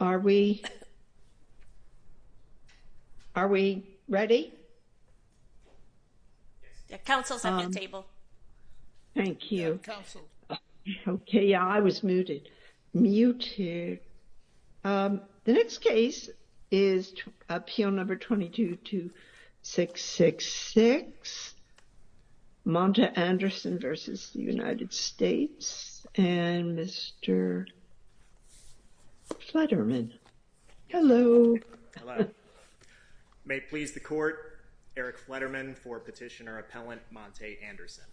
are we are we ready council's on the table thank you council okay yeah i was muted mute here um the next case is appeal number 22 to 666 monta anderson versus the united states and mr fleterman hello may it please the court eric fleterman for petitioner appellant monte anderson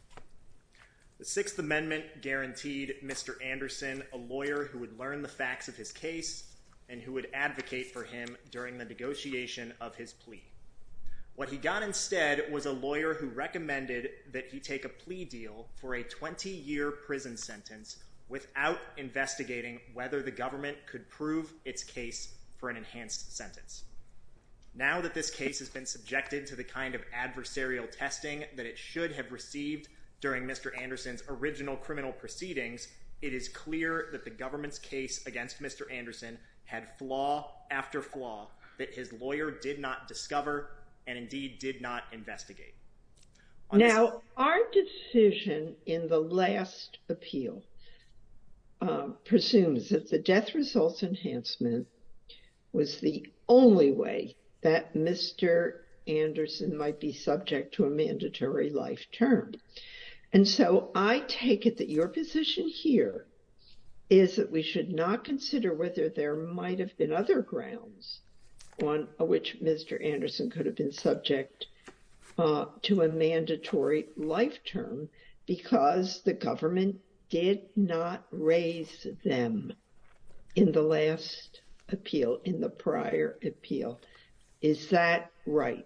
the sixth amendment guaranteed mr anderson a lawyer who would learn the facts of his case and who would advocate for him during the negotiation of his plea what he got instead was a lawyer who recommended that he take a plea deal for a 20 year prison sentence without investigating whether the government could prove its case for an enhanced sentence now that this case has been subjected to the kind of adversarial testing that it should have received during mr anderson's original criminal proceedings it is clear that the did not discover and indeed did not investigate now our decision in the last appeal presumes that the death results enhancement was the only way that mr anderson might be subject to a mandatory life term and so i take it that your position here is that we should not consider there might have been other grounds on which mr anderson could have been subject to a mandatory life term because the government did not raise them in the last appeal in the prior appeal is that right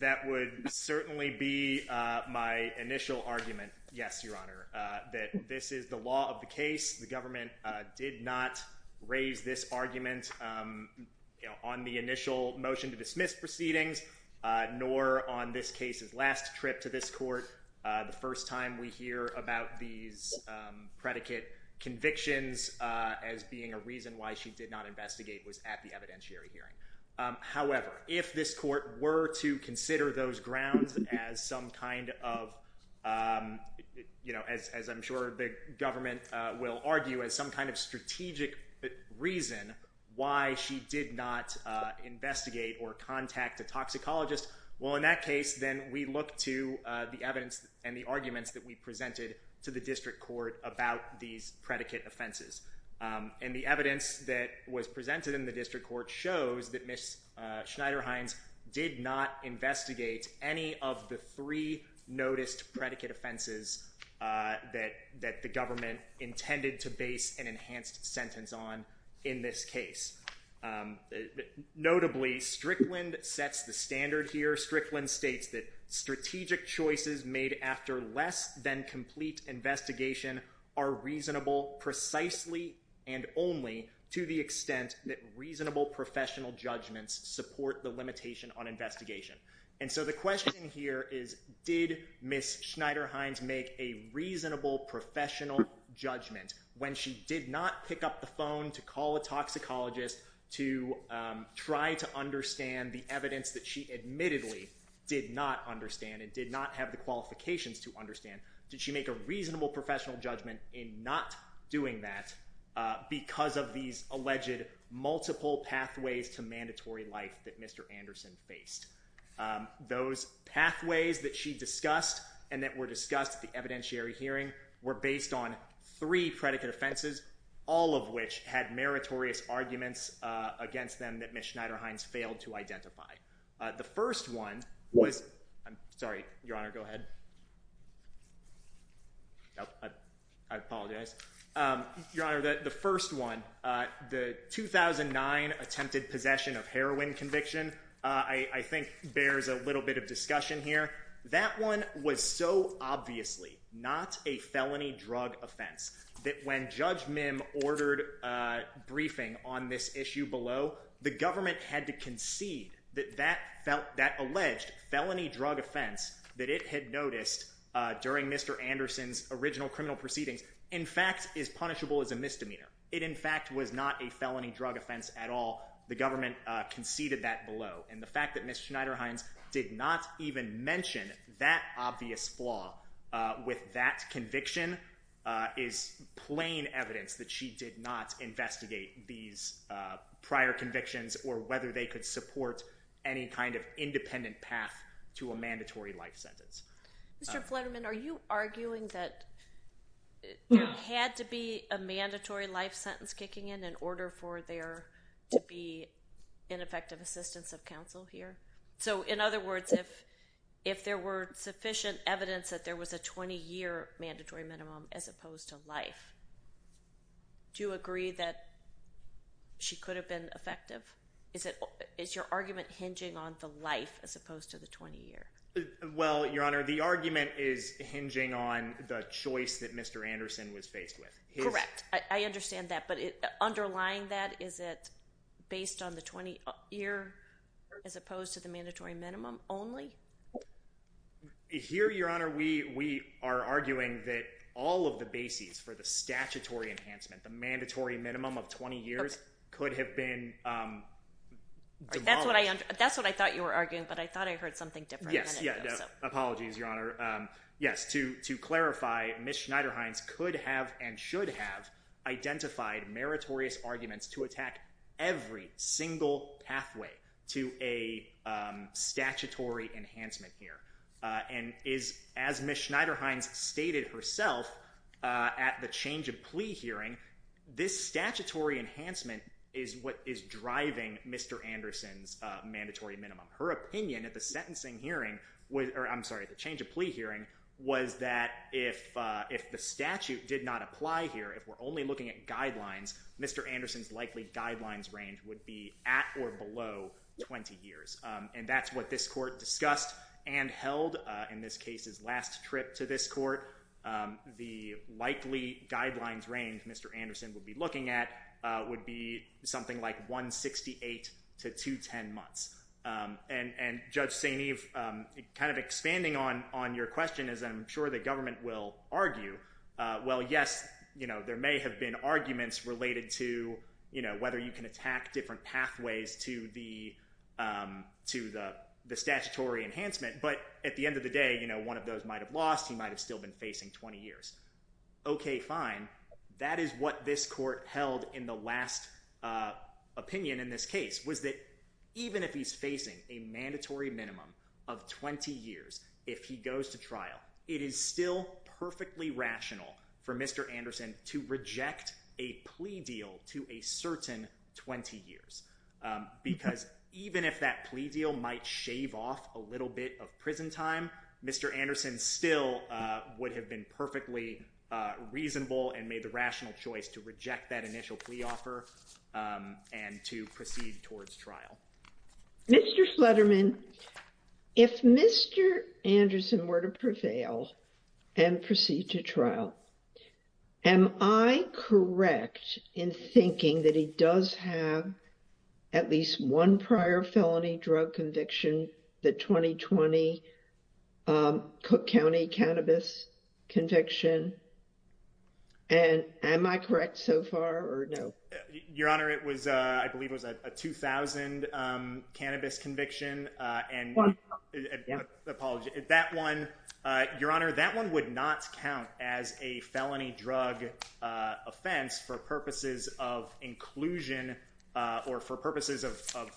that would certainly be uh my initial argument yes your honor uh that this the law of the case the government uh did not raise this argument um you know on the initial motion to dismiss proceedings uh nor on this case's last trip to this court uh the first time we hear about these um predicate convictions uh as being a reason why she did not investigate was at the evidentiary hearing um however if this court were to consider those grounds as some kind of um you know as i'm sure the government uh will argue as some kind of strategic reason why she did not uh investigate or contact a toxicologist well in that case then we look to the evidence and the arguments that we presented to the district court about these predicate offenses um and the evidence that was presented in the district court shows that miss uh schneider any of the three noticed predicate offenses uh that that the government intended to base an enhanced sentence on in this case um notably strickland sets the standard here strickland states that strategic choices made after less than complete investigation are reasonable precisely and only to the extent that reasonable professional judgments support the limitation on investigation and so the question here is did miss schneider hines make a reasonable professional judgment when she did not pick up the phone to call a toxicologist to um try to understand the evidence that she admittedly did not understand and did not have the qualifications to understand did she make a reasonable professional judgment in not doing that uh because of these alleged multiple pathways to mandatory life that mr anderson faced um those pathways that she discussed and that were discussed at the evidentiary hearing were based on three predicate offenses all of which had meritorious arguments uh against them that miss schneider hines failed to identify uh the first one was i'm sorry your honor go ahead no i apologize um your honor that the first one uh the 2009 attempted possession of heroin conviction uh i i think bears a little bit of discussion here that one was so obviously not a felony drug offense that when judge mim ordered a briefing on this issue below the government had to concede that that felt that alleged felony drug offense that it had noticed uh during mr anderson's original criminal proceedings in fact is punishable as a misdemeanor it in fact was not a felony drug offense at all the government uh conceded that below and the fact that miss schneider hines did not even mention that obvious flaw uh with that conviction uh is plain evidence that she did not investigate these uh prior convictions or whether they could support any kind of independent path to a mandatory life sentence mr flutterman are you arguing that there had to be a mandatory life sentence kicking in in order for there to be ineffective assistance of counsel here so in other words if if there were sufficient evidence that there was a 20-year mandatory minimum as opposed to life do you agree that she could have been effective is it is your argument hinging on the life as your honor the argument is hinging on the choice that mr anderson was faced with correct i understand that but underlying that is it based on the 20 year as opposed to the mandatory minimum only here your honor we we are arguing that all of the bases for the statutory enhancement the mandatory minimum of 20 years could have been um that's what i that's what i thought you were arguing but i thought i heard something different yes yeah apologies your honor um yes to to clarify miss schneider hines could have and should have identified meritorious arguments to attack every single pathway to a um statutory enhancement here uh and is as miss schneider hines stated herself uh at the change of plea hearing this statutory enhancement is what is her opinion at the sentencing hearing or i'm sorry the change of plea hearing was that if uh if the statute did not apply here if we're only looking at guidelines mr anderson's likely guidelines range would be at or below 20 years um and that's what this court discussed and held in this case's last trip to this court um the likely guidelines range mr anderson would be looking at uh would be something like 168 to 210 months um and and judge saint eve um kind of expanding on on your question is i'm sure the government will argue uh well yes you know there may have been arguments related to you know whether you can attack different pathways to the um to the the statutory enhancement but at the end of the day you know one of those might have held in the last uh opinion in this case was that even if he's facing a mandatory minimum of 20 years if he goes to trial it is still perfectly rational for mr anderson to reject a plea deal to a certain 20 years because even if that plea deal might shave off a little bit of prison time mr anderson still uh would have been perfectly uh reasonable and made the rational choice to reject that initial plea offer um and to proceed towards trial mr slederman if mr anderson were to prevail and proceed to trial am i correct in thinking that he does have at least one prior felony drug conviction the 2020 um cook county cannabis conviction and am i correct so far or no your honor it was uh i believe it was a 2000 um cannabis conviction uh and apologies that one uh your honor that one would not count as a felony drug uh offense for purposes of inclusion uh or for purposes of of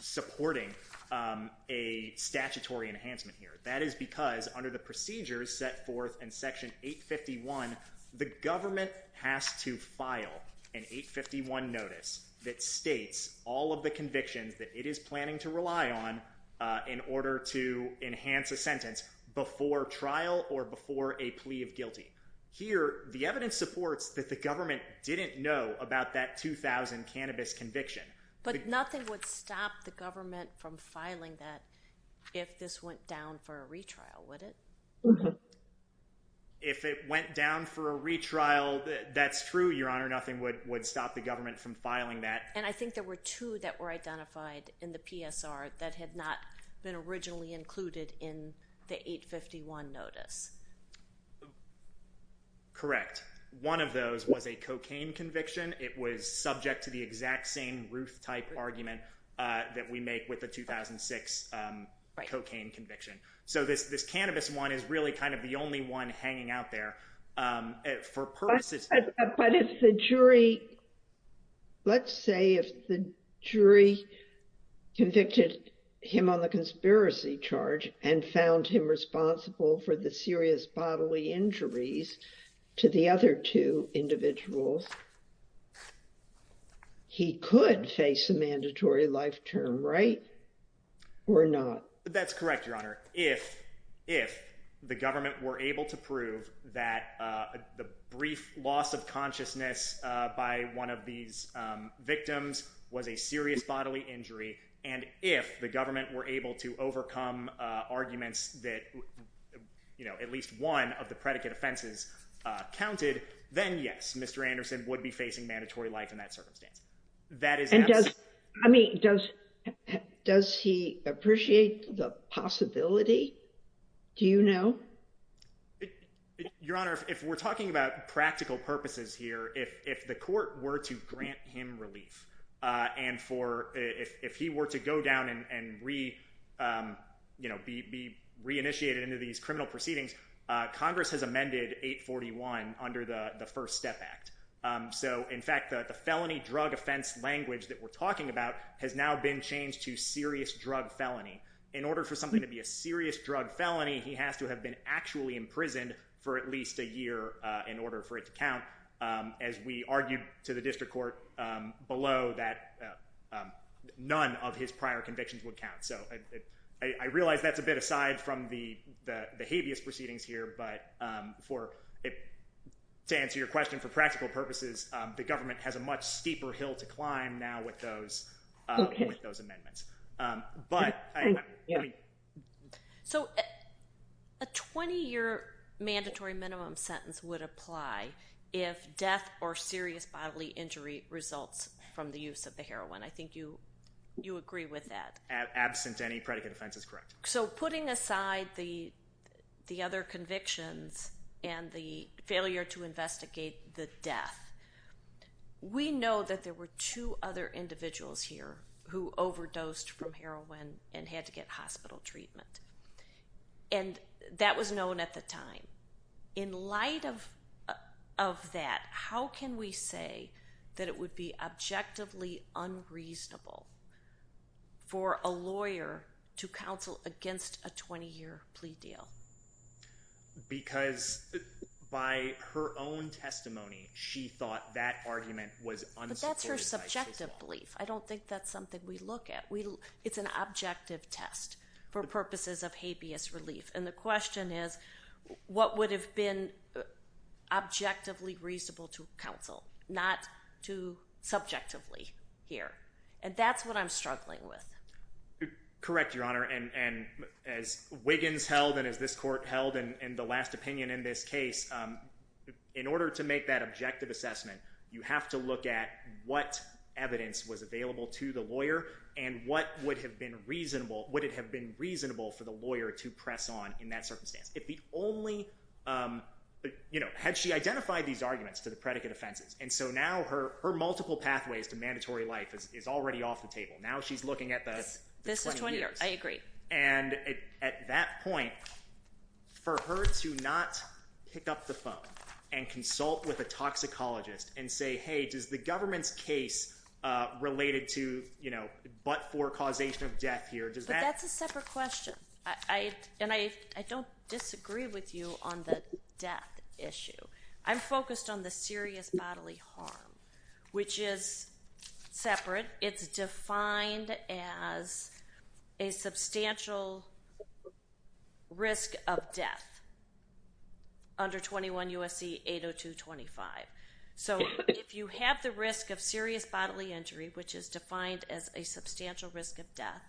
supporting um a statutory enhancement here that is because under the procedures set forth in section 851 the government has to file an 851 notice that states all of the convictions that it is planning to rely on uh in order to enhance a sentence before trial or before a plea of guilty here the evidence supports that the government didn't know about that 2000 cannabis conviction but nothing would stop the government from filing that if this went down for a retrial would it if it went down for a retrial that's true your honor nothing would would stop the government from filing that and i think there were two that were identified in the psr that had not been originally included in the 851 notice correct one of those was a cocaine conviction it was subject to the exact same ruth type argument uh that we make with the 2006 um cocaine conviction so this this cannabis one is really kind of the only one hanging out there um for purposes but if the jury let's say if the jury convicted him on the conspiracy charge and found him responsible for the serious bodily injuries to the other two individuals he could face a mandatory life term right or not that's correct your honor if if the government were able to prove that uh the brief loss of consciousness uh by one of these um victims was a serious bodily injury and if the government were able to overcome uh arguments that you know at least one of the predicate offenses uh counted then yes mr anderson would be facing mandatory life in that circumstance that is i mean does does he appreciate the possibility do you know your honor if we're talking about practical purposes here if if the court were to grant him relief uh and for if if he were to go down and and re um you know be be reinitiated into these criminal proceedings uh congress has amended 841 under the the first step act um so in fact the the felony drug offense language that we're talking about has now been changed to serious drug felony in order for something to be a serious drug felony he has to have been actually imprisoned for at least a year uh in order for it to count um as we argued to the district court um below that none of his prior convictions would count so i i realize that's a bit aside from the the habeas proceedings here but um for it to answer your question for practical purposes um the government has a much steeper hill to climb now with those uh with those amendments um but i mean so a 20-year mandatory minimum sentence would apply if death or serious bodily injury results from the use of the heroin i think you you agree with that absent any predicate so putting aside the the other convictions and the failure to investigate the death we know that there were two other individuals here who overdosed from heroin and had to get hospital treatment and that was known at the time in light of of that how can we say that it would be objectively unreasonable for a lawyer to counsel against a 20-year plea deal because by her own testimony she thought that argument was that's her subjective belief i don't think that's something we look at we it's an objective test for purposes of habeas relief and the question is what would have been objectively reasonable to counsel not to subjectively here and that's what i'm struggling with correct your honor and and as wiggins held and as this court held and and the last opinion in this case um in order to make that objective assessment you have to look at what evidence was available to the lawyer and what would have been reasonable would it have been reasonable for the lawyer to press on in that circumstance if the only um but you know had she identified these arguments to the predicate offenses and so now her her multiple pathways to mandatory life is already off the table now she's looking at the this is 20 years i agree and at that point for her to not pick up the phone and consult with a toxicologist and say hey does the i and i i don't disagree with you on the death issue i'm focused on the serious bodily harm which is separate it's defined as a substantial risk of death under 21 usc 802 25 so if you have the risk of serious bodily injury which is defined as a substantial risk of death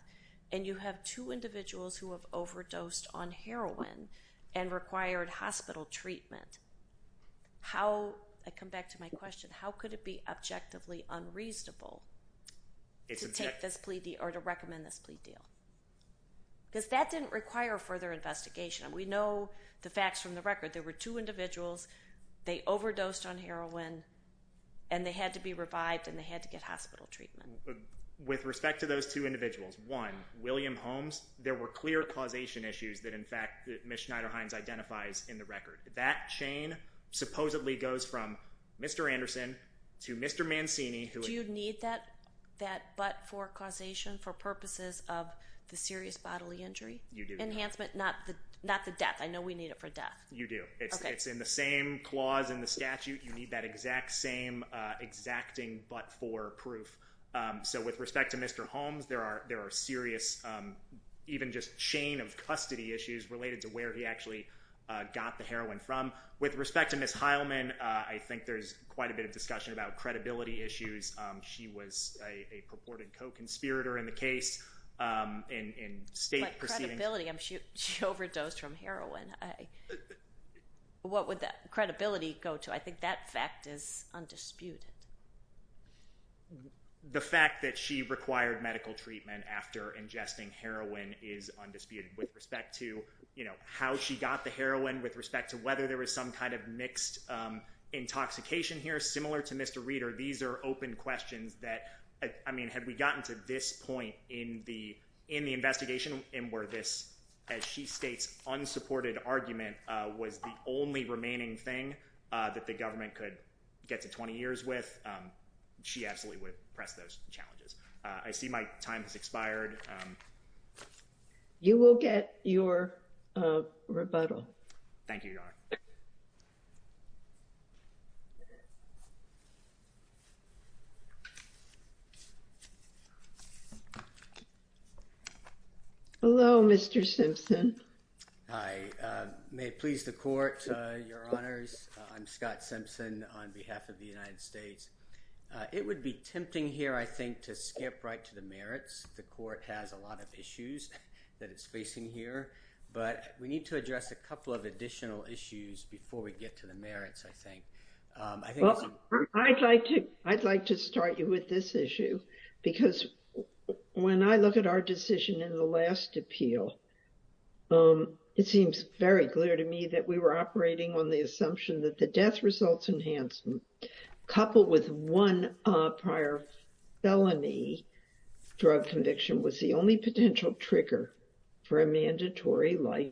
and you have two individuals who have overdosed on heroin and required hospital treatment how i come back to my question how could it be objectively unreasonable to take this plea or to recommend this plea deal because that didn't require further investigation we know the facts from the record there were two individuals they overdosed on heroin and they had to be revived and they had to get hospital treatment with respect to those two individuals one william holmes there were clear causation issues that in fact mish neiderhines identifies in the record that chain supposedly goes from mr anderson to mr mancini who do you need that that but for causation for purposes of the serious bodily injury you do enhancement not the not the death i know we need it for death you do it's in the same clause in the statute you need that exact same uh exacting but for proof um so with respect to mr holmes there are there are serious um even just chain of custody issues related to where he actually uh got the heroin from with respect to miss heilman uh i think there's quite a bit of discussion about credibility issues um she was a purported co-conspirator in the case um in in i'm sure she overdosed from heroin i what would that credibility go to i think that fact is undisputed the fact that she required medical treatment after ingesting heroin is undisputed with respect to you know how she got the heroin with respect to whether there was some kind of mixed um intoxication here similar to mr reader these are open questions that i mean have we point in the in the investigation and where this as she states unsupported argument uh was the only remaining thing uh that the government could get to 20 years with um she absolutely would press those challenges i see my time has expired um you will get your uh rebuttal thank you hello mr simpson i uh may please the court uh your honors i'm scott simpson on behalf of the united states uh it would be tempting here i think to skip right to the merits the court has a lot of issues that it's facing here but we need to address a couple of additional issues before we get to the when i look at our decision in the last appeal um it seems very clear to me that we were operating on the assumption that the death results enhancement coupled with one uh prior felony drug conviction was the only potential trigger for a mandatory life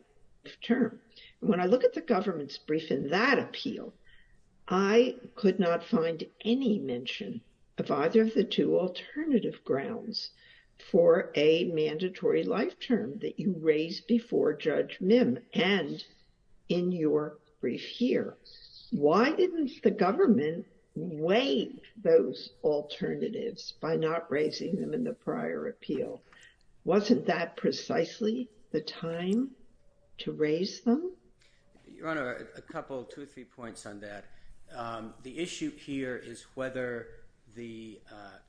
term when i look at the government's brief in that appeal i could not find any mention of either of the two alternative grounds for a mandatory life term that you raised before judge mim and in your brief here why didn't the government weigh those alternatives by not raising them in the prior appeal wasn't that precisely the time to raise them your honor a couple two three points on that the issue here is whether the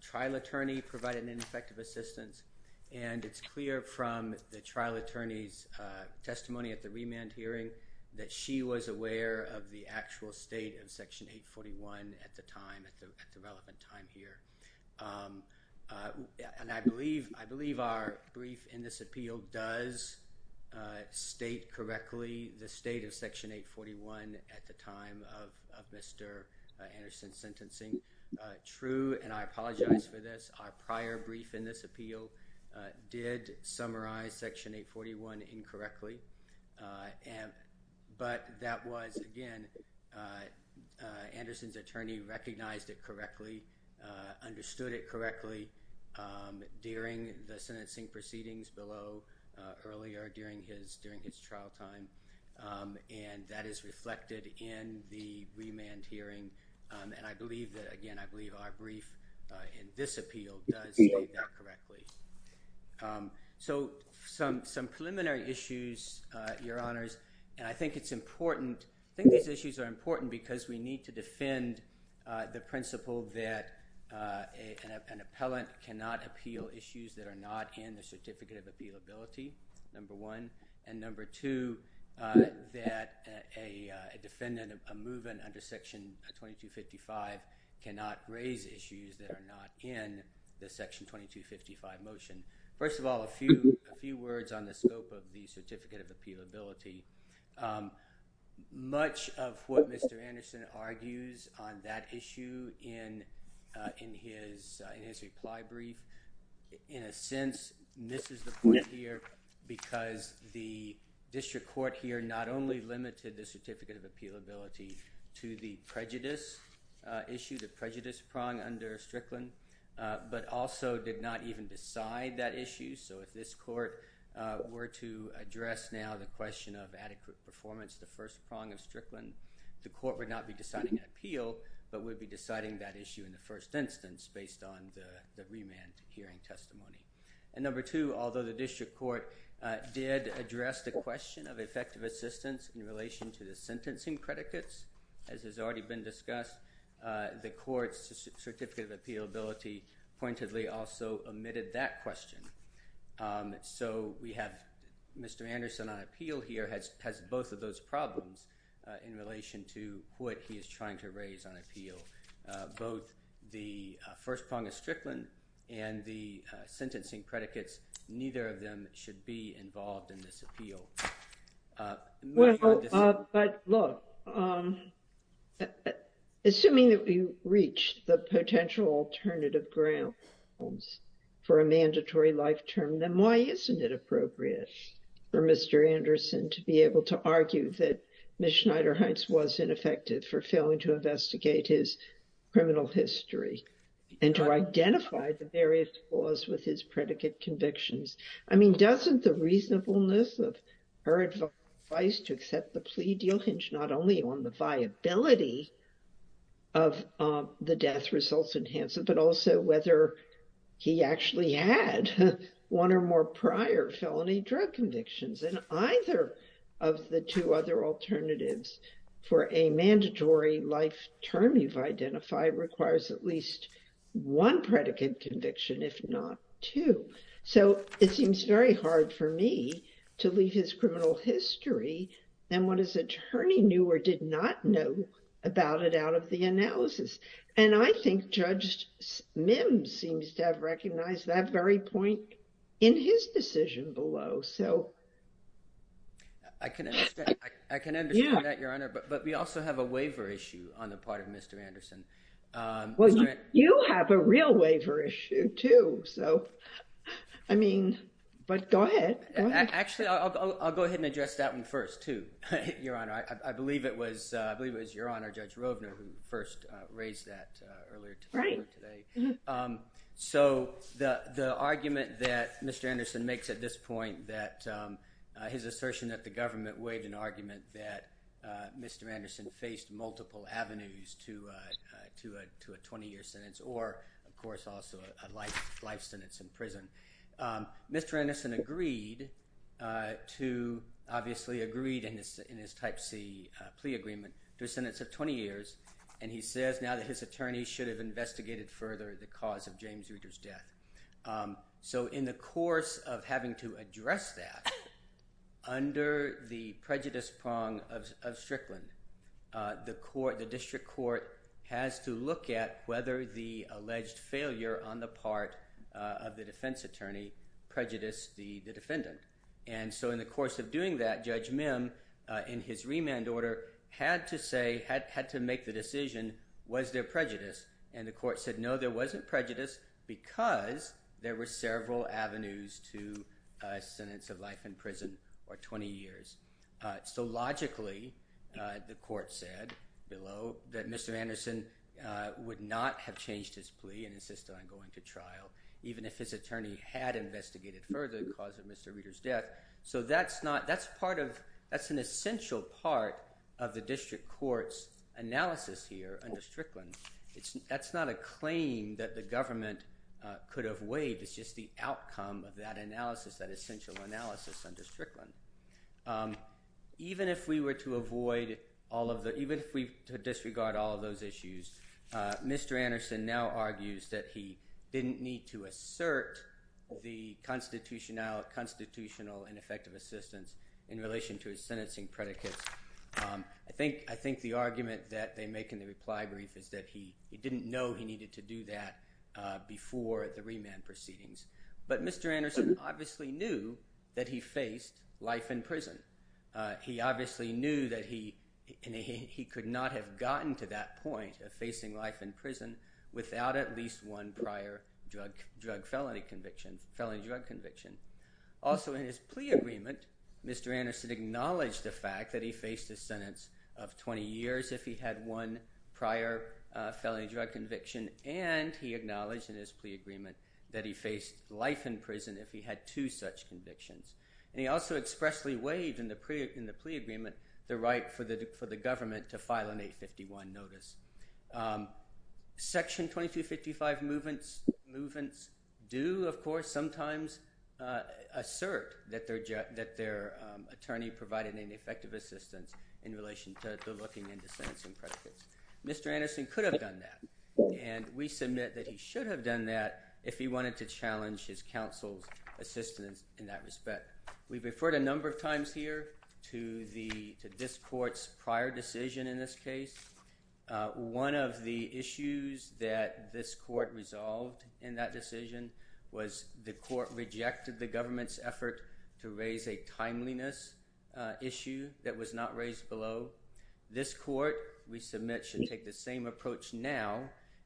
trial attorney provided an effective assistance and it's clear from the trial attorney's testimony at the remand hearing that she was aware of the actual state of section 841 at the time at the development time here and i believe i believe our brief in this anderson's sentencing uh true and i apologize for this our prior brief in this appeal did summarize section 841 incorrectly uh and but that was again uh anderson's attorney recognized it correctly uh understood it correctly um during the sentencing proceedings below earlier during his during his trial time and that is reflected in the remand hearing and i believe that again i believe our brief in this appeal does state that correctly so some some preliminary issues uh your honors and i think it's important i think these issues are important because we need to defend uh the principle that uh an appellant cannot appeal issues that are not in the certificate of appealability number one and number two uh that a defendant of a movement under section 2255 cannot raise issues that are not in the section 2255 motion first of all a few a few words on the scope of the certificate of appealability um much of what mr anderson argues on that issue in uh in his in his reply brief in a sense misses the point here because the district court here not only limited the certificate of appealability to the prejudice uh issue the prejudice prong under strickland but also did not even decide that issue so if this court uh were to address now the question of adequate performance the first prong of strickland the court would not be deciding an appeal but would be deciding that issue in the first instance based on the remand hearing testimony and number two although the district court uh did address the question of effective assistance in relation to the sentencing predicates as has already been discussed uh the court's certificate of appealability pointedly also omitted that question um so we have mr anderson on appeal here has has both of those problems uh in relation to what he is trying to raise on appeal uh both the first prong of strickland and the uh sentencing predicates neither of them should be involved in this appeal uh but look um assuming that we reached the potential alternative grounds for a mandatory life term then why isn't it appropriate for mr anderson to be able to argue that miss schneider heights was ineffective for failing to investigate his criminal history and to identify the various flaws with his predicate convictions i mean doesn't the reasonableness of her advice to accept the plea deal hinge not only on the viability of um the death results enhance it but also whether he actually had one or more prior felony drug convictions and either of the two other alternatives for a mandatory life term you've identified requires at least one predicate conviction if not two so it seems very hard for me to leave his criminal history than what his attorney knew or did not know about it out of the analysis and i think judge mim seems to have recognized that very point in his decision below so i can understand i can understand that your honor but but we also have a waiver issue on the part of mr anderson um well you have a real waiver issue too so i mean but go ahead actually i'll go ahead and address that one first too your honor i i believe it was uh i believe it was your honor judge rovner who first uh raised that uh earlier today um so the the argument that mr anderson makes at this point that um his assertion that the government waived an argument that uh mr anderson faced multiple avenues to uh to a to a 20-year sentence or of course also a life life sentence in prison um mr anderson agreed uh to obviously agreed in his in his type c plea agreement to a sentence of 20 years and he says now that his attorney should have investigated further the cause of james reader's death um so in the course of having to address that under the prejudice prong of strickland uh the court the district court has to look at whether the alleged failure on the part of the defense attorney prejudiced the the defendant and so in the course of doing that judge mim uh in his remand order had to say had had to make the decision was there prejudice and the court said no there wasn't prejudice because there were several avenues to a sentence of life in prison or 20 years uh so logically uh the court said below that mr anderson uh would not have changed his plea and insisted on going to trial even if his attorney had investigated further the cause of mr reader's death so that's not that's part of that's an essential part of the district court's analysis here under strickland it's that's not a claim that the government uh could have waived it's just the outcome of that analysis that essential analysis under strickland um even if we were to avoid all of the even if we disregard all those issues uh mr anderson now argues that he didn't need to assert the constitutional constitutional and effective assistance in relation to his sentencing predicates um i think i think the argument that they make in the reply brief is that he he didn't know he needed to do that uh before the remand proceedings but mr anderson obviously knew that he faced life in prison uh he obviously knew that he he could not have gotten to that point of facing life in prison without at least one prior drug drug felony conviction felony drug conviction also in his plea agreement mr anderson acknowledged the fact that he faced a sentence of 20 years if he had one prior uh felony drug conviction and he acknowledged in his plea agreement that he faced life in prison if he had two such convictions and he also expressly waived in the pre in the plea agreement the right for the for the government to file an 851 notice section 2255 movements movements do of course sometimes uh assert that their jet that their attorney provided an effective assistance in relation to the looking into sentencing predicates mr anderson could have done that and we submit that he should have done that if he wanted to challenge his counsel's assistance in that respect we've referred a number of times here to the to this court's prior decision in this case one of the issues that this court resolved in that decision was the court rejected the government's effort to raise a timeliness issue that was not raised below this court we submit should take the same approach now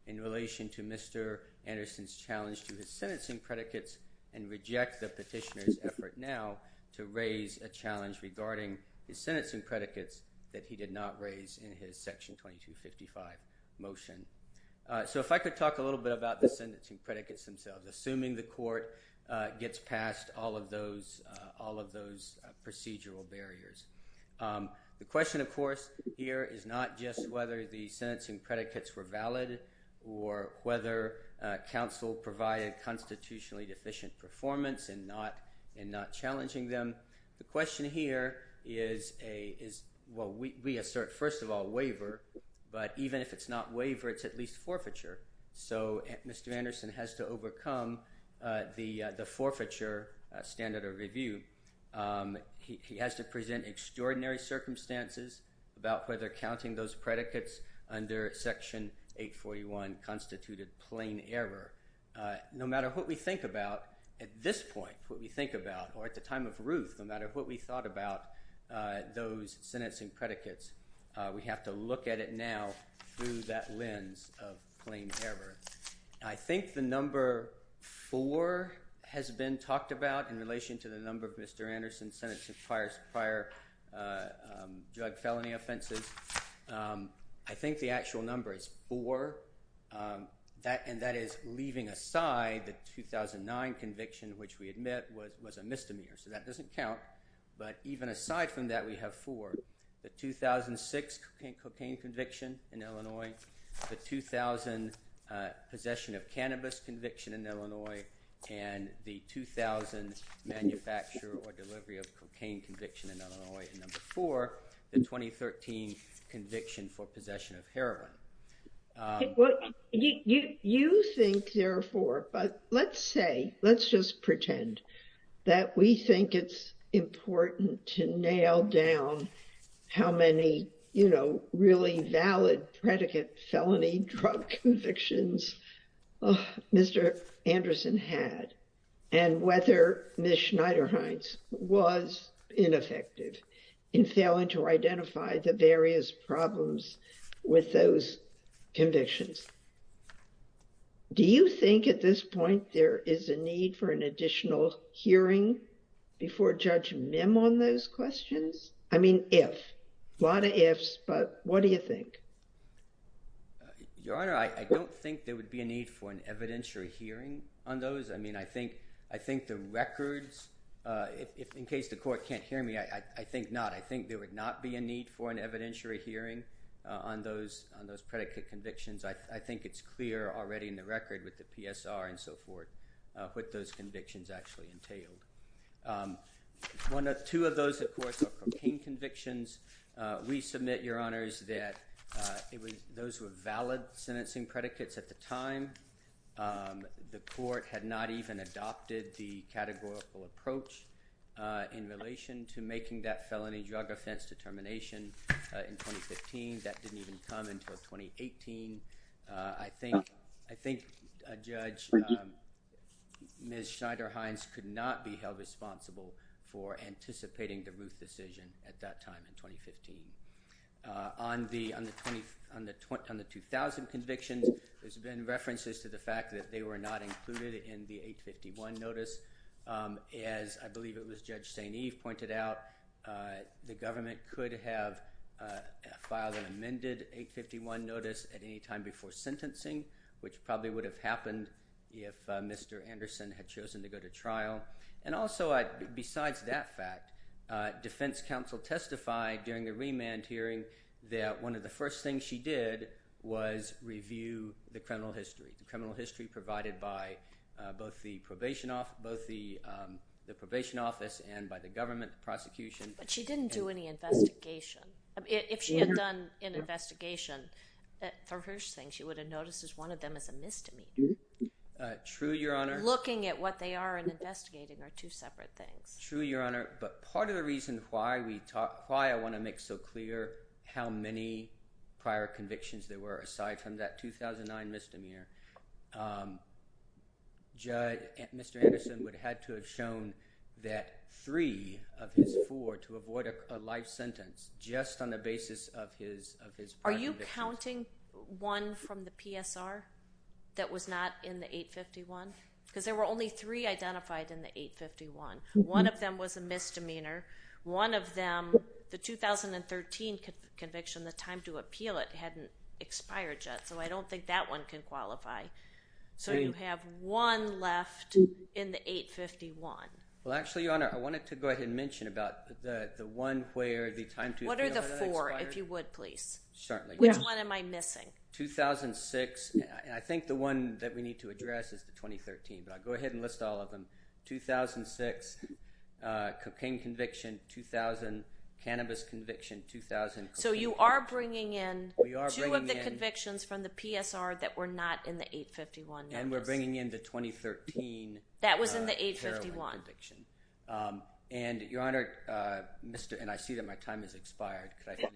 in relation to mr anderson's challenge to his sentencing predicates and reject the petitioner's effort now to raise a challenge regarding his sentencing predicates that he did not raise in his section 2255 motion so if i could talk a little bit about the sentencing predicates themselves assuming the court gets past all of those all of those procedural barriers the question of course here is not just whether the sentencing predicates were valid or whether council provided constitutionally deficient performance and not and not challenging them the question here is a is well we assert first of all waiver but even if it's not waiver it's at least forfeiture so mr anderson has to overcome the the forfeiture standard of review he has to present extraordinary circumstances about whether counting those predicates under section 841 constituted plain error no matter what we think about at this point what we think about or at the time of ruth no matter what we thought about those sentencing predicates we have to look at it now through that error i think the number four has been talked about in relation to the number of mr anderson sentencing prior drug felony offenses i think the actual number is four that and that is leaving aside the 2009 conviction which we admit was was a misdemeanor so that doesn't count but even aside from that we have four the 2006 cocaine conviction in illinois the 2000 uh possession of cannabis conviction in illinois and the 2000 manufacturer or delivery of cocaine conviction in illinois and number four the 2013 conviction for possession of heroin what you you think therefore but let's say let's just pretend that we think it's important to nail down how many you know really valid predicate felony drug convictions mr anderson had and whether miss schneiderhines was ineffective in failing to identify the various problems with those convictions do you think at this point there is a need for an additional hearing before judge mim on those questions i mean if a lot of ifs but what do you think your honor i don't think there would be a need for an evidentiary hearing on those i mean i think i think the records uh if in case the court can't hear me i i think not i think there would not be a need for an evidentiary hearing on those on those predicate convictions i what those convictions actually entailed um one or two of those of course are cocaine convictions uh we submit your honors that uh it was those were valid sentencing predicates at the time the court had not even adopted the categorical approach uh in relation to making that felony drug offense determination in 2015 that didn't even come until 2018 uh i think i think a judge miss schneiderhines could not be held responsible for anticipating the ruth decision at that time in 2015 uh on the on the 20 on the 2000 convictions there's been references to the fact that they were not included in the 851 notice um as i believe it was judge saint eve pointed out uh the government could have uh filed an amended 851 notice at any time before sentencing which probably would have happened if mr anderson had chosen to go to trial and also i besides that fact uh defense counsel testified during the remand hearing that one of the first things she did was review the criminal history the criminal history provided by uh both the probation off both the um the probation office and by the government the prosecution but she didn't do any investigation if she had done an investigation for her thing would have noticed as one of them as a misdemeanor true your honor looking at what they are and investigating are two separate things true your honor but part of the reason why we talk why i want to make so clear how many prior convictions there were aside from that 2009 misdemeanor um judge mr anderson would have had to have shown that three of his four to avoid a life sentence just on the basis of his of his are you counting one from the psr that was not in the 851 because there were only three identified in the 851 one of them was a misdemeanor one of them the 2013 conviction the time to appeal it hadn't expired yet so i don't think that one can qualify so you have one left in the 851 well actually your honor i wanted to go ahead and what are the four if you would please certainly which one am i missing 2006 and i think the one that we need to address is the 2013 but i'll go ahead and list all of them 2006 uh cocaine conviction 2000 cannabis conviction 2000 so you are bringing in two of the convictions from the psr that were not in the 851 and we're bringing in the 2013 that was in the 851 conviction um and your honor uh mr and i see that my time has expired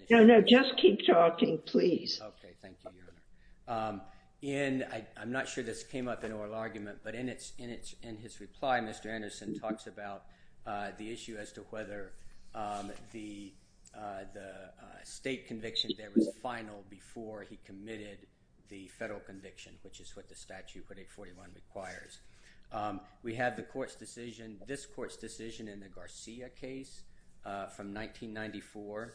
no no just keep talking please okay thank you your honor um in i i'm not sure this came up in oral argument but in its in its in his reply mr anderson talks about uh the issue as to whether um the uh the uh state conviction that was final before he committed the federal conviction which is what the statute 4841 requires um we have the decision in the garcia case uh from 1994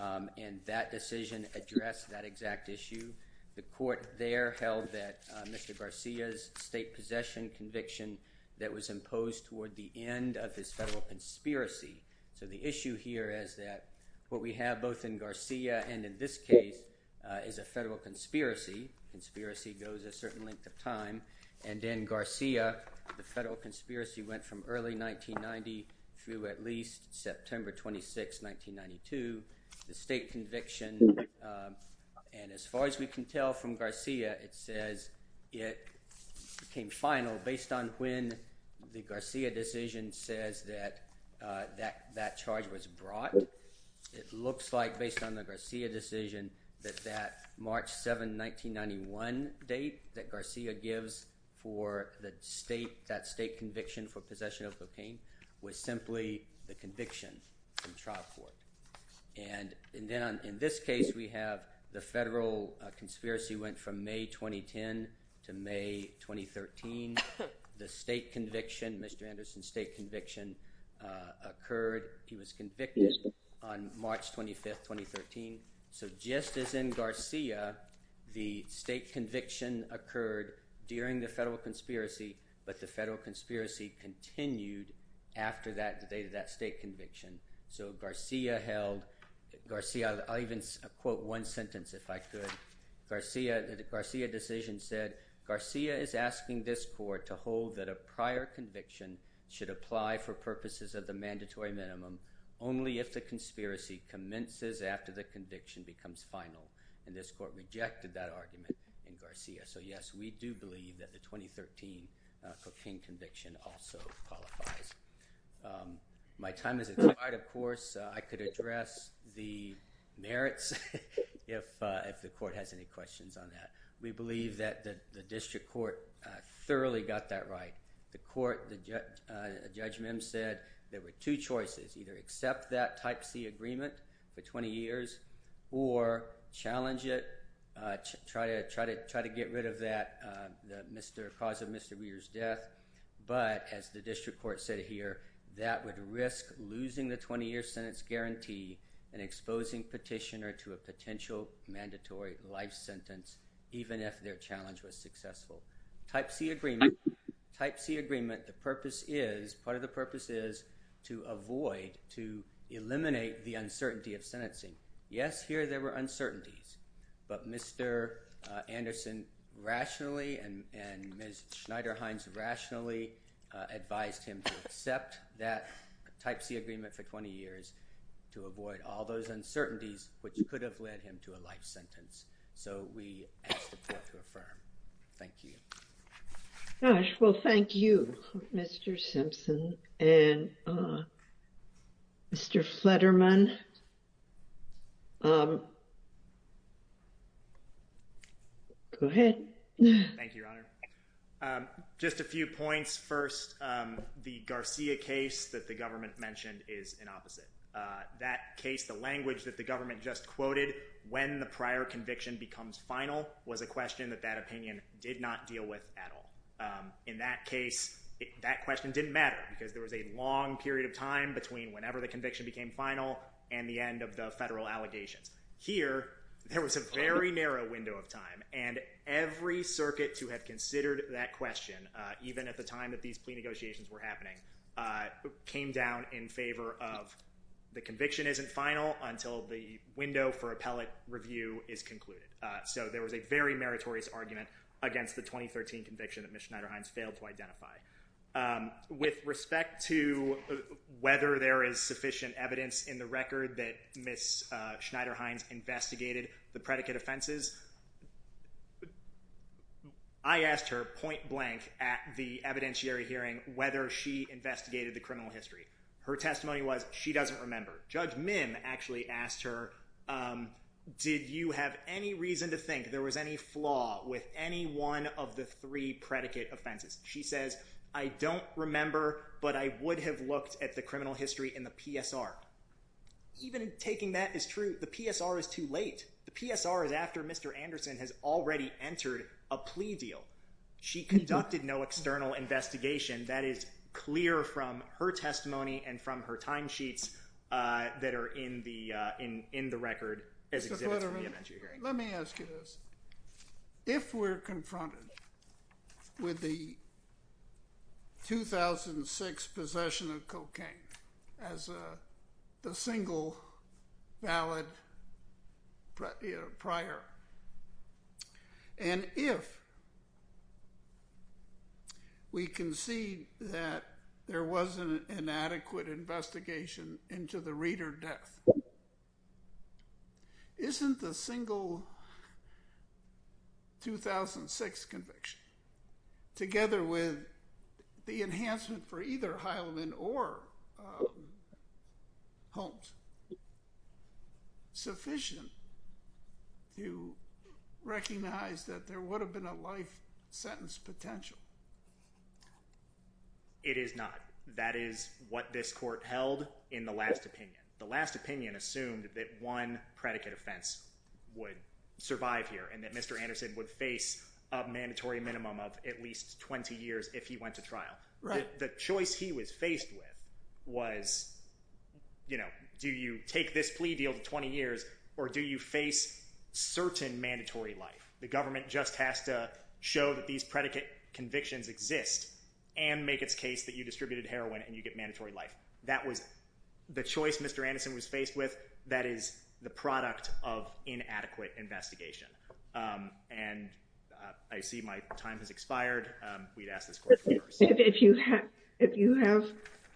um and that decision addressed that exact issue the court there held that mr garcia's state possession conviction that was imposed toward the end of his federal conspiracy so the issue here is that what we have both in garcia and in this case is a federal conspiracy conspiracy goes a certain length of time and then garcia the federal through at least september 26 1992 the state conviction um and as far as we can tell from garcia it says it became final based on when the garcia decision says that uh that that charge was brought it looks like based on the garcia decision that that march 7 1991 date that garcia gives for the state that state conviction for possession of cocaine was simply the conviction from trial court and then in this case we have the federal conspiracy went from may 2010 to may 2013 the state conviction mr anderson state conviction uh occurred he was convicted on march 25 2013 so just as in garcia the state conviction occurred during the federal conspiracy but the federal conspiracy continued after that the date of that state conviction so garcia held garcia i'll even quote one sentence if i could garcia the garcia decision said garcia is asking this court to hold that a prior conviction should apply for purposes of the mandatory minimum only if the conspiracy commences after the conviction becomes final and this court rejected that argument in garcia so yes we do believe that the 2013 cocaine conviction also qualifies my time is right of course i could address the merits if uh if the court has any questions on that we believe that the district court uh thoroughly got that right the court the judge uh judge mim said there were two choices either accept that type c agreement for 20 years or challenge it uh try to try to try to get rid of that uh the mr cause of mr reader's death but as the district court said here that would risk losing the 20-year sentence guarantee and exposing petitioner to a potential mandatory life sentence even if their challenge was successful type c agreement type c agreement the purpose is part of the purpose is to avoid to eliminate the uncertainty of sentencing yes here there were uncertainties but mr anderson rationally and and ms schneider heinz rationally advised him to accept that type c agreement for 20 years to avoid all those uncertainties which could have led him to and uh mr flatterman um go ahead thank you your honor um just a few points first um the garcia case that the government mentioned is an opposite uh that case the language that the government just quoted when the prior conviction becomes final was a question that that opinion did not deal with at all um in that case that question didn't matter because there was a long period of time between whenever the conviction became final and the end of the federal allegations here there was a very narrow window of time and every circuit to have considered that question uh even at the time that these plea negotiations were happening uh came down in favor of the conviction isn't final until the window for appellate review is concluded uh so there was a very meritorious argument against the 2013 conviction that miss schneider heinz failed to identify um with respect to whether there is sufficient evidence in the record that miss uh schneider heinz investigated the predicate offenses i asked her point blank at the evidentiary hearing whether she investigated the criminal history her testimony was she doesn't remember judge mim actually asked her um did you have any reason to predicate offenses she says i don't remember but i would have looked at the criminal history in the psr even taking that is true the psr is too late the psr is after mr anderson has already entered a plea deal she conducted no external investigation that is clear from her testimony and from her time sheets uh that are in the uh in in the record as exhibits for the event you're hearing let me ask you this if we're confronted with the 2006 possession of cocaine as a the single valid prior and if we concede that there wasn't an adequate investigation into the reader death um isn't the single 2006 conviction together with the enhancement for either heileman or homes sufficient to recognize that there would have been a life sentence potential no it is not that is what this court held in the last opinion the last opinion assumed that one predicate offense would survive here and that mr anderson would face a mandatory minimum of at least 20 years if he went to trial right the choice he was faced with was you know do you take this plea deal to 20 years or do you face certain mandatory life the government just has to show these predicate convictions exist and make its case that you distributed heroin and you get mandatory life that was the choice mr anderson was faced with that is the product of inadequate investigation um and i see my time has expired um we'd ask this question if you have if you have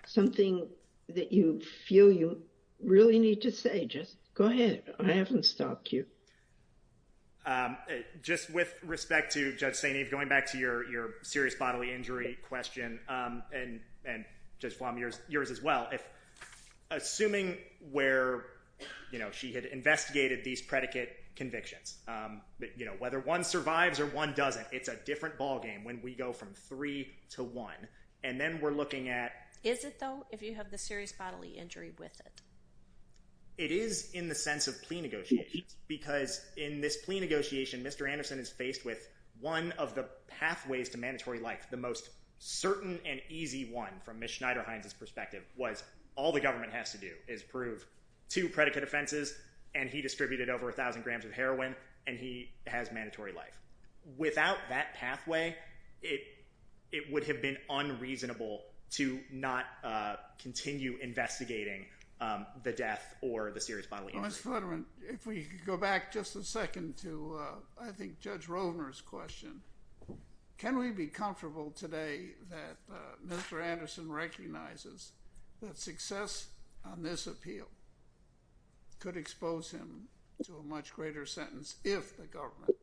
something that you feel you really need to say just go ahead i haven't stopped you um just with respect to judge saint eve going back to your your serious bodily injury question um and and just from yours yours as well if assuming where you know she had investigated these predicate convictions um but you know whether one survives or one doesn't it's a different ball game when we go from three to one and then we're looking at is it though if you have serious bodily injury with it it is in the sense of plea negotiations because in this plea negotiation mr anderson is faced with one of the pathways to mandatory life the most certain and easy one from ms schneider heinz's perspective was all the government has to do is prove two predicate offenses and he distributed over a thousand grams of heroin and he has mandatory life without that pathway it it would have been unreasonable to not uh continue investigating um the death or the serious bodily injury if we could go back just a second to uh i think judge rovner's question can we be comfortable today that uh mr anderson recognizes that success on this appeal could expose him to a much greater sentence if the government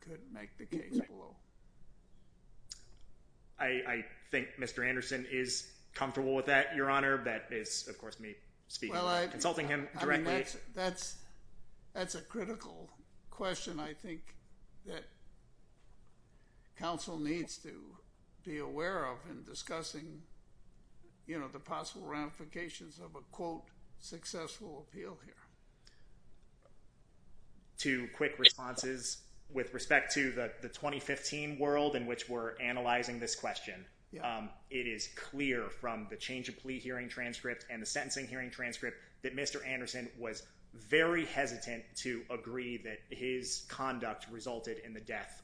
couldn't make the case below i i think mr anderson is comfortable with that your honor that is of course me speaking consulting him directly that's that's a critical question i think that council needs to be aware of in discussing you know the possible ramifications of a quote successful appeal here two quick responses with respect to the the 2015 world in which we're analyzing this question um it is clear from the change of plea hearing transcript and the death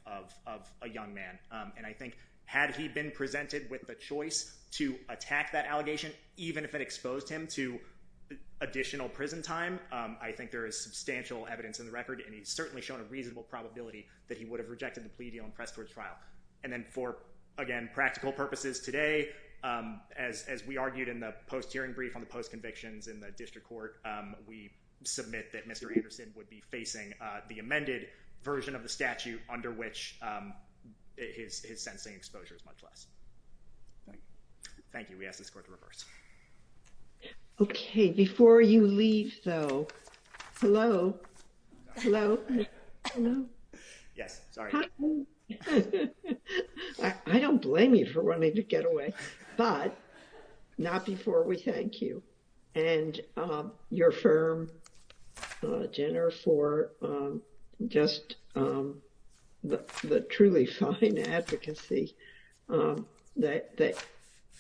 of of a young man um and i think had he been presented with the choice to attack that allegation even if it exposed him to additional prison time um i think there is substantial evidence in the record and he's certainly shown a reasonable probability that he would have rejected the plea deal and pressed towards trial and then for again practical purposes today um as as we argued in the post hearing brief on the post convictions in the district court um we submit that mr anderson would be facing uh the amended version of the statute under which um his his sentencing exposure is much less thank you we ask this court to reverse okay before you leave though hello hello hello yes sorry i don't blame you for wanting to get away but not before we thank you and um your firm uh jenner for um just um the truly fine advocacy um that that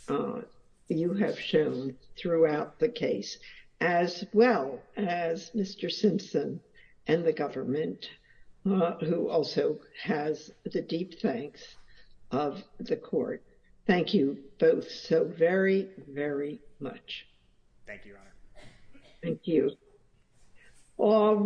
uh you have shown throughout the case as well as mr simpson and the government uh who also has the deep thanks of the court thank you both so very very much thank you thank you all right